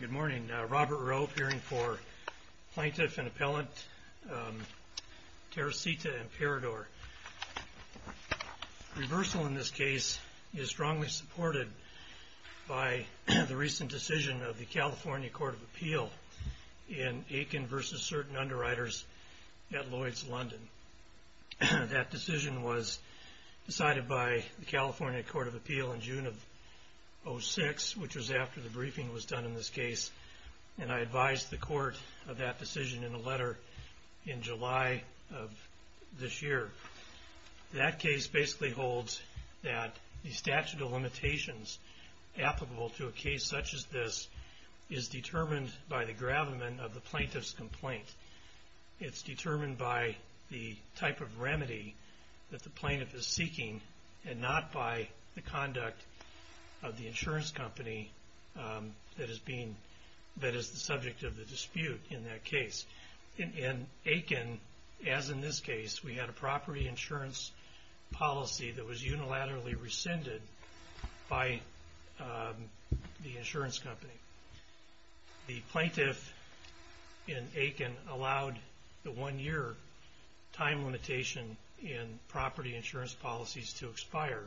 Good morning. Robert Rowe, appearing for Plaintiff and Appellant Teresita Imperador. Reversal in this case is strongly supported by the recent decision of the California Court of Appeal in June of 2006, which was after the briefing was done in this case, and I advised the Court of that decision in a letter in July of this year. That case basically holds that the statute of limitations applicable to a case such as this is determined by the plaintiff is seeking and not by the conduct of the insurance company that is the subject of the dispute in that case. In Aiken, as in this case, we had a property insurance policy that was unilaterally rescinded by the insurance company. The plaintiff in Aiken allowed the one-year time limitation in property insurance policies to expire,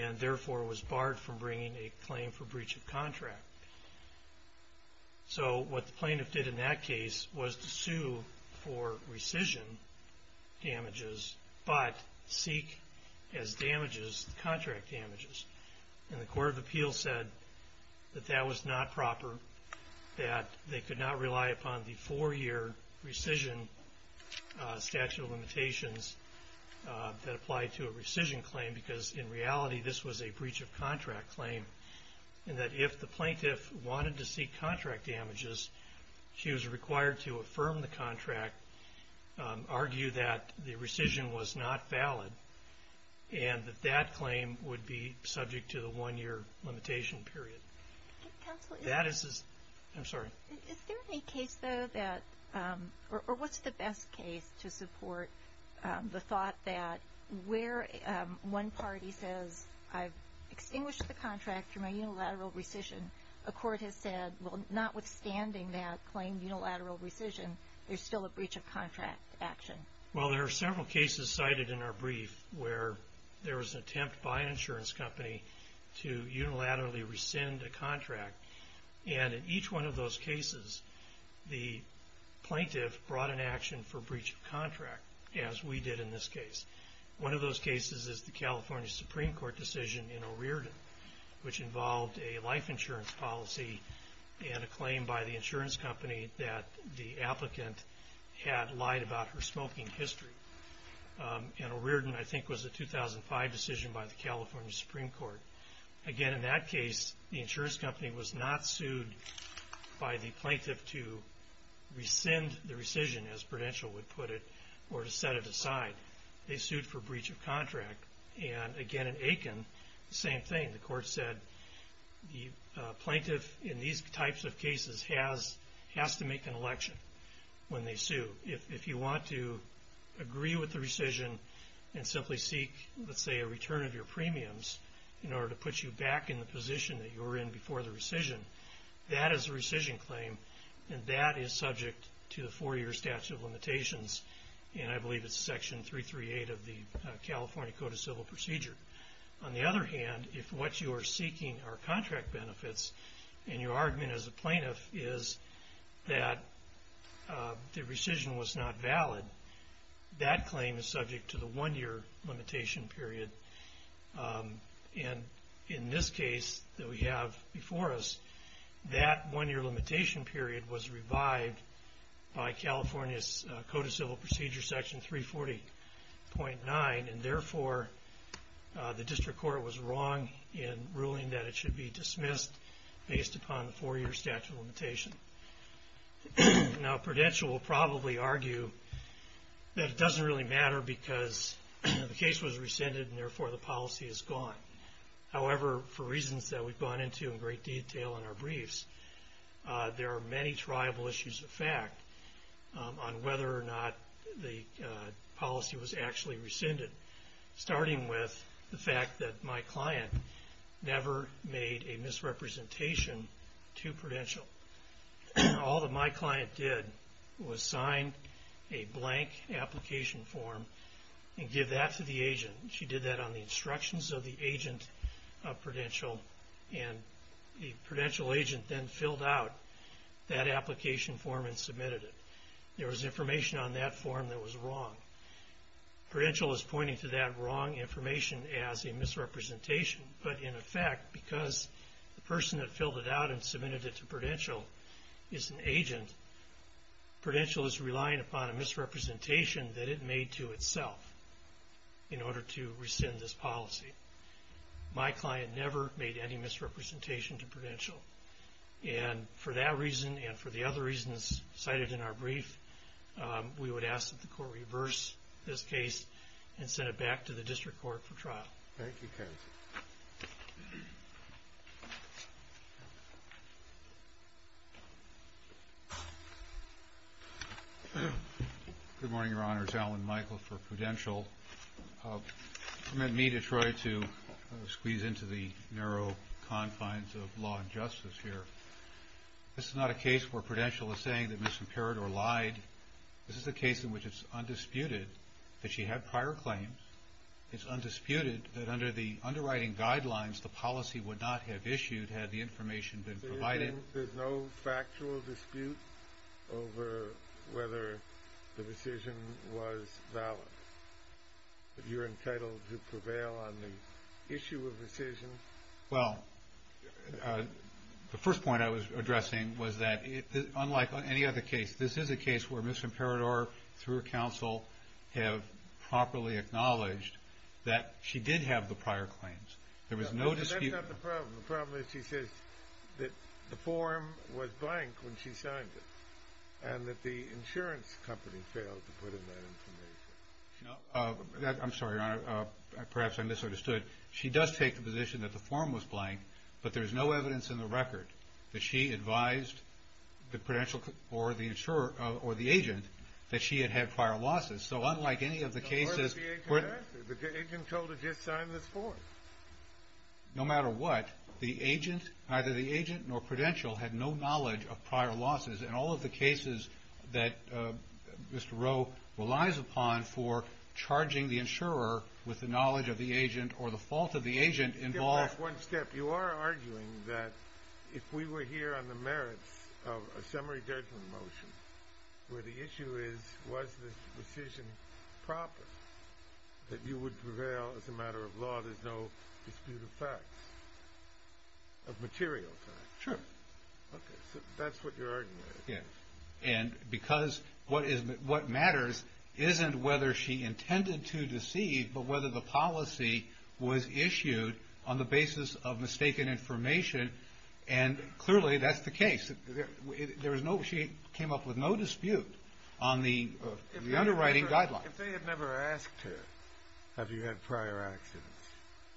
and therefore was barred from bringing a claim for breach of contract. So what the plaintiff did in that case was to sue for rescission damages, but seek as damages contract damages. And the Court of Appeal said that that was not proper, that they could not rely upon the four-year rescission statute of limitations that applied to a rescission claim because in reality this was a breach of contract claim, and that if the plaintiff wanted to seek contract damages, she was required to affirm the contract, argue that the rescission was not valid, and that that claim would be subject to the one-year limitation period. Is there any case, though, that, or what's the best case to support the thought that where one party says, I've extinguished the contract through my unilateral rescission, a court has said, well, notwithstanding that claim unilateral rescission, there's still a breach of contract action? Well, there are several cases cited in our brief where there was an attempt by an insurance company to unilaterally rescind a contract. And in each one of those cases, the plaintiff brought an action for breach of contract, as we did in this case. One of those cases is the California Supreme Court decision in O'Riordan, which involved a life insurance policy and a claim by the insurance company that the applicant had lied about her smoking history. And O'Riordan, I think, was a 2005 decision by the California Supreme Court. Again, in that case, the insurance company was not sued by the plaintiff to rescind the rescission, as Prudential would put it, or to set it aside. They sued for breach of contract. And again, in Aiken, the same thing. The court said, the plaintiff in these types of cases has to make an election when they sue. If you want to agree with the rescission and simply seek, let's say, a return of your premiums in order to put you back in the position that you were in before the rescission, that is a rescission claim, and that is subject to the four-year statute of limitations. And I believe it's Section 338 of the California Code of Civil Procedure. On the other hand, if what you are seeking are contract benefits, and your argument as a plaintiff is that the rescission was not valid, that claim is subject to the one-year limitation period. And in this case that we have before us, that one-year limitation period was revived by California's Code of Civil Procedure, Section 340.9, and therefore the district court was wrong in ruling that it should be dismissed based upon the four-year statute of limitations. Now Prudential will probably argue that it doesn't really matter because the case was rescinded and therefore the policy is gone. However, for reasons that we've gone into in great detail in our briefs, there are many triable issues of fact on whether or not the policy was actually rescinded, starting with the fact that my client never made a misrepresentation to Prudential. All that my client did was sign a blank application form and give that to the agent. She did that on the instructions of the agent of Prudential, and the Prudential agent then filled out that application form and submitted it. There was information on that form that was wrong. Prudential is pointing to that wrong information as a misrepresentation, but in effect, because the person that filled it out and submitted it to Prudential is an agent, Prudential is relying upon a misrepresentation that it made to itself in order to rescind this policy. My client never made any misrepresentation to Prudential, and for that reason and for the other reasons cited in our brief, we would ask that the Court reverse this case and send it back to the District Court for trial. Thank you, counsel. Good morning, Your Honors. Alan Michael for Prudential. You've met me to try to squeeze into the narrow confines of law and justice here. This is not a case where Prudential is saying that Ms. Imperator lied. This is a case in which it's undisputed that she had under the underwriting guidelines, the policy would not have issued had the information been provided. There's no factual dispute over whether the decision was valid? You're entitled to prevail on the issue of decision? Well, the first point I was addressing was that unlike any other case, this is a case where Ms. Imperator, through counsel, have properly acknowledged that she did have the prior claims. There was no dispute. That's not the problem. The problem is she says that the form was blank when she signed it, and that the insurance company failed to put in that information. I'm sorry, Your Honor. Perhaps I misunderstood. She does take the position that the form was that she had had prior losses. So unlike any of the cases... The agent told her to just sign this form. No matter what, the agent, neither the agent nor Prudential, had no knowledge of prior losses. And all of the cases that Mr. Rowe relies upon for charging the insurer with the knowledge of the agent or the fault of the agent involve... You are arguing that if we were here on the merits of a summary judgment motion, where the issue is, was the decision proper, that you would prevail as a matter of law, there's no dispute of facts, of material facts. Sure. Okay. So that's what you're arguing. Yes. And because what matters isn't whether she intended to deceive, but whether the policy was issued on the basis of mistaken information, and clearly that's the case. There is no... She came up with no dispute on the underwriting guidelines. If they had never asked her, have you had prior accidents,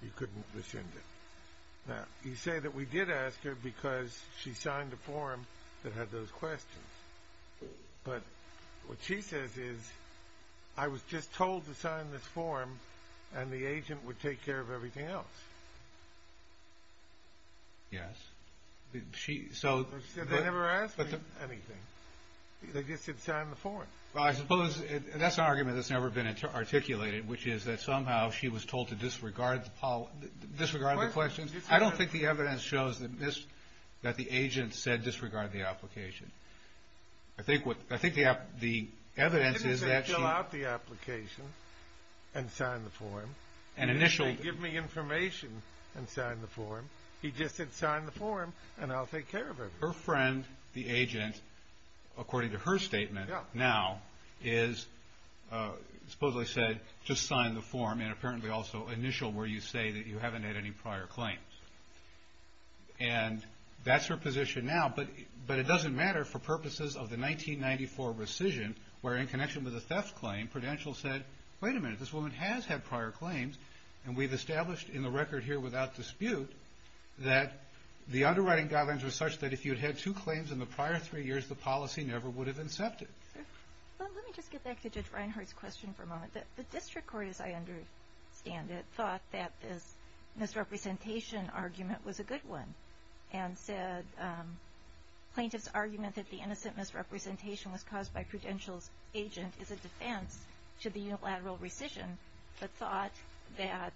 you couldn't have assumed it. Now, you say that we did ask her because she signed a form that had those questions. But what she says is, I was just told to sign this form and the agent would take care of everything else. Yes. She said they never asked me anything. They just said sign the form. Well, I suppose that's an argument that's never been articulated, which is that somehow she was told to disregard the questions. I don't think the evidence shows that the agent said disregard the application. I think the evidence is that she... He didn't say fill out the application and sign the form. An initial... He didn't say give me information and sign the form. He just said sign the form and I'll take care of everything. Her friend, the agent, according to her statement now, is supposedly said, just sign the form and apparently also initial where you say that you haven't had any prior claims. And that's her position now. But it doesn't matter for purposes of the 1994 rescission, where in connection with the theft claim, Prudential said, wait a minute, this woman has had prior claims and we've established in the record here without dispute that the underwriting guidelines were such that if you'd had two claims in the prior three years, the policy never would have incepted. Let me just get back to Judge Reinhardt's question for a moment. The district court, as I understand it, thought that this misrepresentation argument was a good one and said plaintiff's argument that the innocent misrepresentation was caused by Prudential's agent is a defense to the unilateral rescission, but thought that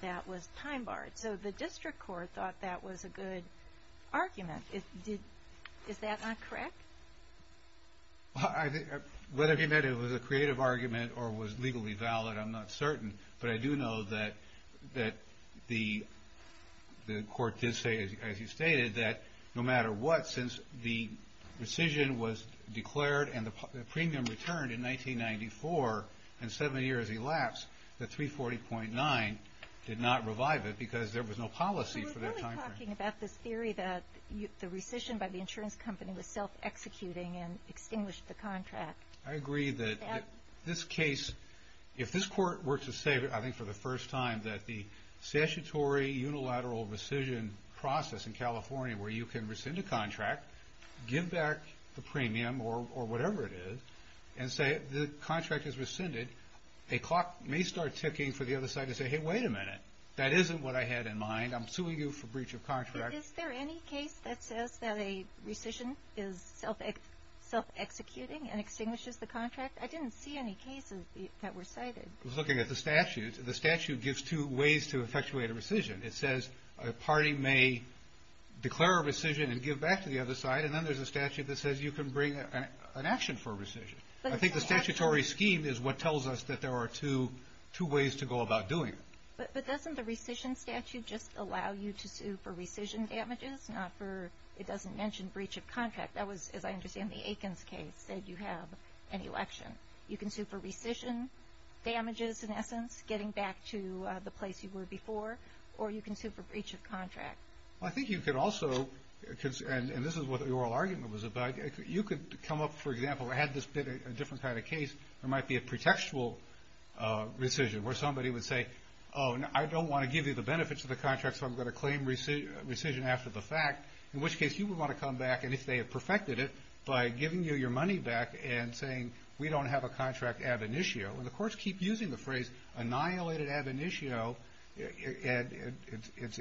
that was time barred. So the district court thought that was a good argument. Is that not correct? Whether he meant it was a creative argument or was legally valid, I'm not certain. But I do know that the court did say, as you stated, that no matter what, since the rescission was declared and the premium returned in 1994 and seven years elapsed, the 340.9 did not revive it because there was no policy for that timeframe. You're talking about this theory that the rescission by the insurance company was self-executing and extinguished the contract. I agree that this case, if this court were to say, I think for the first time, that the statutory unilateral rescission process in California where you can rescind a contract, give back the premium or whatever it is, and say the contract is rescinded, a clock may start ticking for the other side to say, hey, wait a minute. That isn't what I had in mind. I'm suing you for breach of contract. Is there any case that says that a rescission is self-executing and extinguishes the contract? I didn't see any cases that were cited. I was looking at the statute. The statute gives two ways to effectuate a rescission. It says a party may declare a rescission and give back to the other side, and then there's a statute that says you can bring an action for a rescission. I think the statutory scheme is what tells us that there are two ways to go about doing it. But doesn't the rescission statute just allow you to sue for rescission damages, not for it doesn't mention breach of contract. That was, as I understand the Aikens case, that you have an election. You can sue for rescission damages, in essence, getting back to the place you were before, or you can sue for breach of contract. I think you could also, and this is what the oral argument was about, you could come up, for example, had this been a different kind of case, there might be a pretextual rescission where somebody would say, oh, I don't want to give you the benefits of the contract, so I'm going to claim rescission after the fact, in which case you would want to come back, and if they had perfected it, by giving you your money back and saying, we don't have a contract ab initio. And the courts keep using the phrase, annihilated ab initio, and it's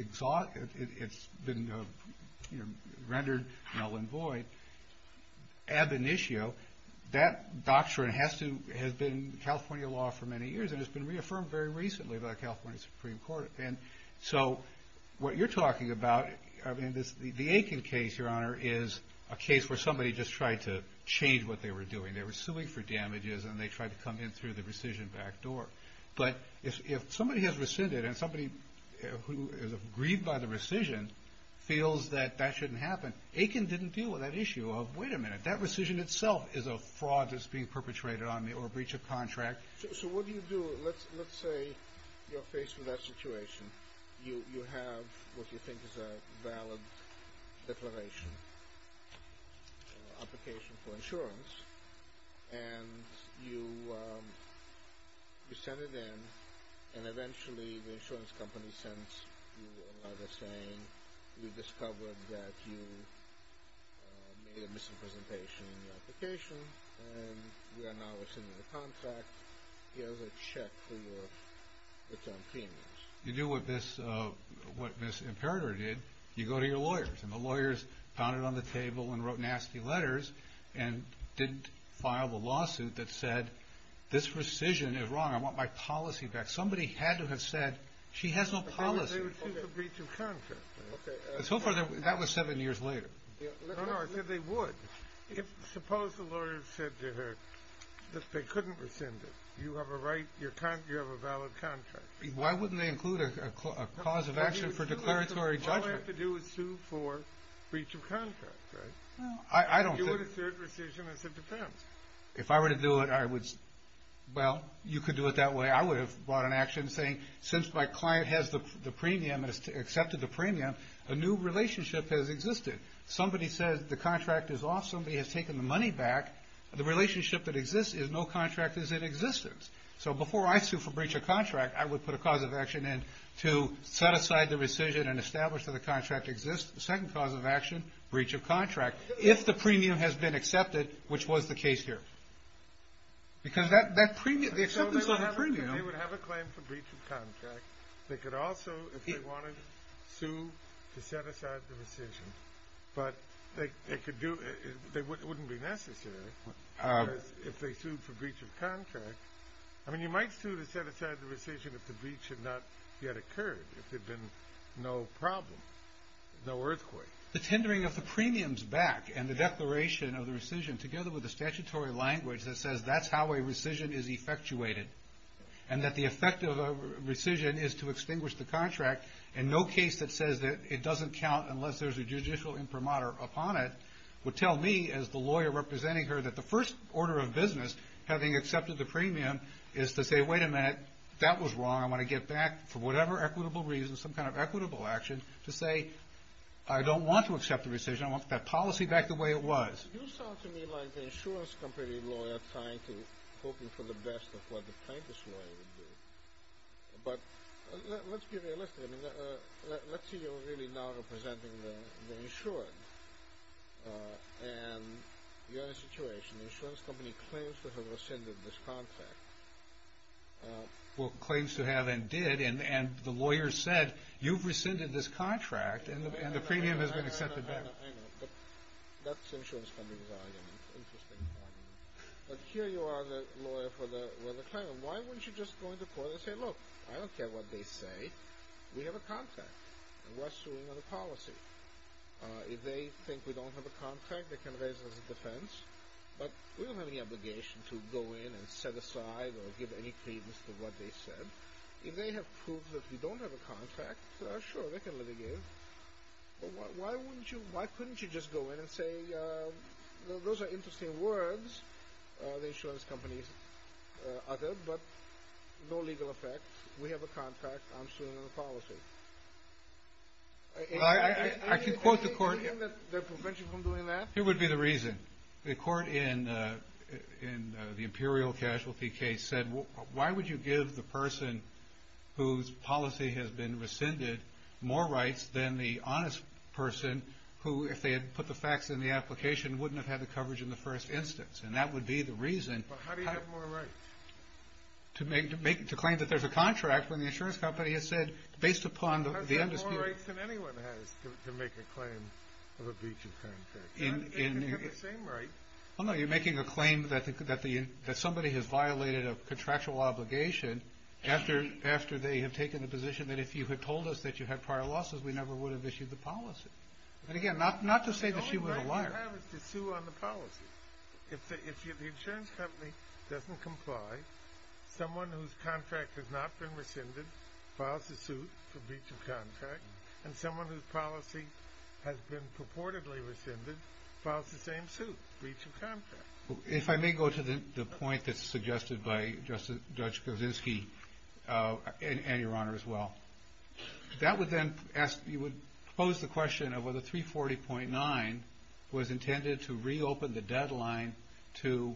been rendered null and void. Ab initio, that doctrine has been in California law for many years, and it's been reaffirmed very recently by the California Supreme Court. And so what you're talking about, I mean, the Aiken case, Your Honor, is a case where somebody just tried to change what they were doing. They were suing for damages, and they tried to come in through the rescission back door. But if somebody has rescinded, and somebody who is aggrieved by the rescission feels that that shouldn't happen, Aiken didn't deal with that issue of, wait a minute, that rescission itself is a fraud that's being perpetrated on me, or a breach of contract. So what do you do? Let's say you're faced with that situation. You have what you think is a valid declaration, application for insurance, and you send it in, and eventually the insurance company sends you a letter saying, we've discovered that you made a misrepresentation in your application, and we are now rescinding the contract. Here's a check for your returned payments. You do what Ms. Imperator did, you go to your lawyers, and the lawyers pounded on the table and wrote nasty letters, and didn't file the lawsuit that said, this rescission is wrong, I want my policy back. Somebody had to have said, she has no policy. They were sued for breach of contract. So far, that was seven years later. No, no, I said they would. Suppose the lawyer said to her that they couldn't rescind it. You have a valid contract. Why wouldn't they include a cause of action for declaratory judgment? All they have to do is sue for breach of contract, right? I don't think... You would assert rescission as it depends. If I were to do it, I would, well, you could do it that way, I would have brought an action saying, since my client has the premium, has accepted the premium, a new relationship has existed. Somebody says the contract is off, somebody has taken the money back, the relationship that exists is no contract is in existence. So before I sue for breach of contract, I would put a cause of action in to set aside the rescission and establish that the contract exists. The second cause of action, breach of contract. If the premium has been accepted, which was the case here. Because that premium... They would have a claim for breach of contract. They could also, if they wanted, sue to set aside the rescission. But it wouldn't be necessary. If they sued for breach of contract... I mean, you might sue to set aside the rescission if the breach had not yet occurred. If there had been no problem, no earthquake. The tendering of the premiums back and the declaration of the rescission together with the statutory language that says that's how a rescission is effectuated. And that the effect of a rescission is to extinguish the contract. And no case that says that it doesn't count unless there's a judicial imprimatur upon it would tell me, as the lawyer representing her, that the first order of business having accepted the premium is to say, wait a minute, that was wrong. I want to get back for whatever equitable reason, some kind of equitable action to say, I don't want to accept the rescission. I want that policy back the way it was. You sound to me like an insurance company lawyer hoping for the best of what the plaintiff's lawyer would do. But let's be realistic. Let's say you're really now representing the insured. And you're in a situation. The insurance company claims to have rescinded this contract. Well, claims to have and did. And the lawyer said, you've rescinded this contract. And the premium has been accepted back. That's insurance company's argument. Interesting argument. But here you are the lawyer for the claimant. Why wouldn't you just go into court and say, look, I don't care what they say. We have a contract. And we're suing on a policy. If they think we don't have a contract, they can raise it as a defense. But we don't have any obligation to go in and set aside or give any credence to what they said. If they have proved that we don't have a contract, sure, they can litigate it. But why wouldn't you, why couldn't you just go in and say, those are interesting words. The insurance company uttered. But no legal effect. We have a contract. I'm suing on a policy. I can quote the court. Do you think they're preventing from doing that? Here would be the reason. The court in the imperial casualty case said, why would you give the person whose policy has been rescinded more rights than the honest person who, if they had put the facts in the application, wouldn't have had the coverage in the first instance. And that would be the reason. But how do you have more rights? To make, to claim that there's a contract when the insurance company has said, based upon the. How do you have more rights than anyone has to make a claim of a breach of contract? You have the same right. Oh no, you're making a claim that somebody has violated a contractual obligation after they have taken the position that if you had told us that you had prior losses, we never would have issued the policy. And again, not to say that she was a liar. The only right you have is to sue on the policy. If the insurance company doesn't comply, someone whose contract has not been rescinded, files a suit for breach of contract. And someone whose policy has been purportedly rescinded, files the same suit, breach of contract. If I may go to the point that's suggested by Judge Kozinski, and Your Honor as well. That would then ask, you would pose the question of whether 340.9 was intended to reopen the deadline to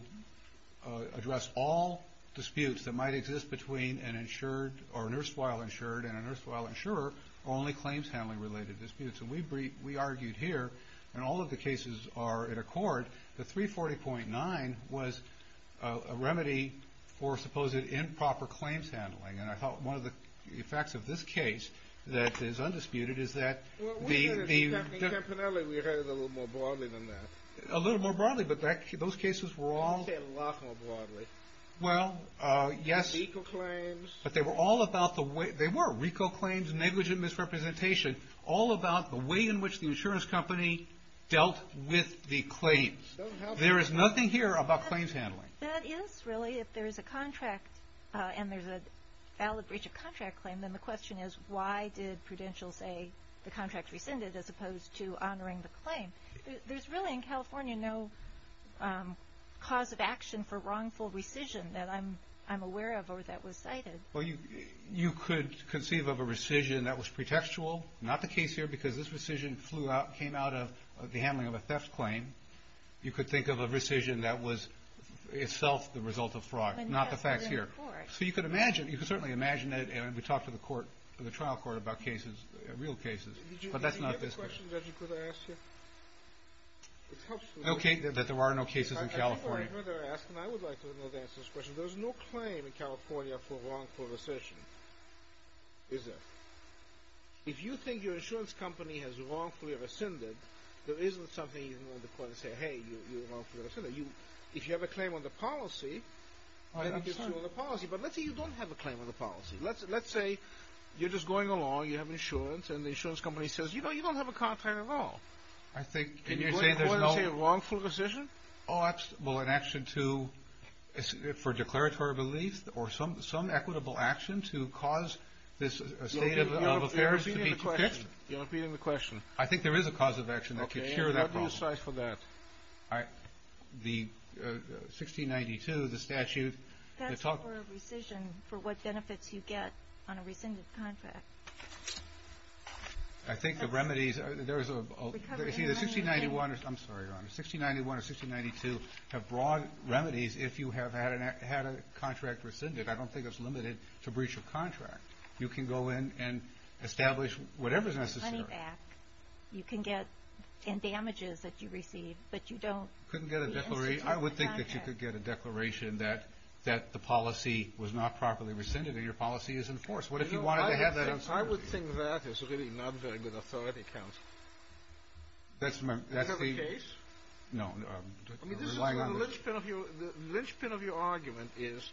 address all disputes that might exist between an insured, or a nurse while insured, and a nurse while insurer, only claims handling related disputes. And we argued here, and all of the cases are in accord, that 340.9 was a remedy for supposed improper claims handling. And I thought one of the effects of this case, that is undisputed, is that We heard it a little more broadly than that. A little more broadly, but those cases were all You say a lot more broadly. Well, yes. RICO claims. They were RICO claims, negligent misrepresentation. All about the way in which the insurance company dealt with the claims. There is nothing here about claims handling. That is, really. If there is a contract, and there's a valid breach of contract claim, then the question is, why did Prudential say the contract rescinded, as opposed to honoring the claim? There's really, in California, no cause of action for wrongful rescission that I'm aware of, or that was cited. Well, you could conceive of a rescission that was pretextual. Not the case here, because this rescission flew out, came out of the handling of a theft claim. You could think of a rescission that was itself the result of fraud. Not the facts here. So you could imagine, you could certainly imagine it, and we talked to the trial court about cases, real cases. But that's not this case. Did you have a question that you could have asked here? It helps me. Okay, that there are no cases in California. I would like to know the answer to this question. There's no claim in California for wrongful rescission, is there? If you think your insurance company has wrongfully rescinded, there isn't something you can go to court and say, hey, you're wrongfully rescinded. If you have a claim on the policy, I think it's true on the policy. But let's say you don't have a claim on the policy. Let's say you're just going along, you have insurance, and the insurance company says, you know, you don't have a contract at all. And you go to court and say wrongful rescission? Oh, that's, well, an action to, for declaratory relief, or some equitable action to cause this state of affairs to be fixed. You're repeating the question. I think there is a cause of action that could cure that problem. Okay, and what do you cite for that? The 1692, the statute. That's for rescission, for what benefits you get on a rescinded contract. I think the remedies, there's a, see the 1691, I'm sorry, Your Honor. The 1691 and 1692 have broad remedies if you have had a contract rescinded. I don't think it's limited to breach of contract. You can go in and establish whatever's necessary. You can get in damages that you receive, but you don't. Couldn't get a declaration. I would think that you could get a declaration that the policy was not properly rescinded or your policy is enforced. I would think that is really not very good authority, counsel. Do you have a case? No, I'm relying on this. The linchpin of your argument is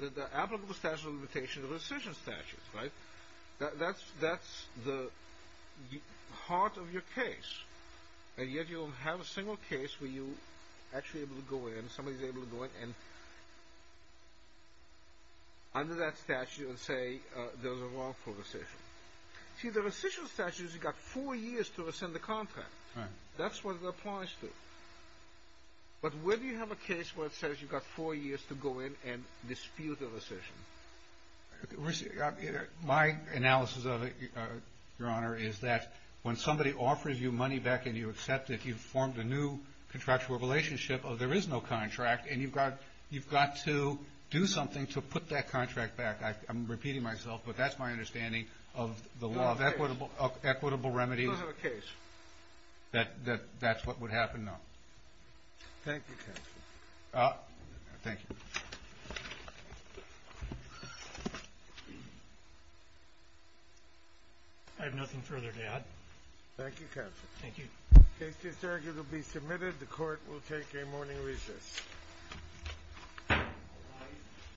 that the applicable statute of limitation is a rescission statute, right? That's the heart of your case. And yet you don't have a single case where you're actually able to go in, somebody's able to go in under that statute and say there's a wrongful rescission. See, the rescission statute has got four years to rescind the contract. That's what it applies to. But where do you have a case where it says you've got four years to go in and dispute a rescission? My analysis of it, Your Honor, is that when somebody offers you money back and you accept it, you've formed a new contractual relationship of there is no contract and you've got to do something to put that contract back. I'm repeating myself, but that's my understanding of the law of equitable remedies. You don't have a case? That's what would happen? No. Thank you, counsel. Thank you. I have nothing further to add. Thank you, counsel. The case is arguably submitted. The court will take a morning recess.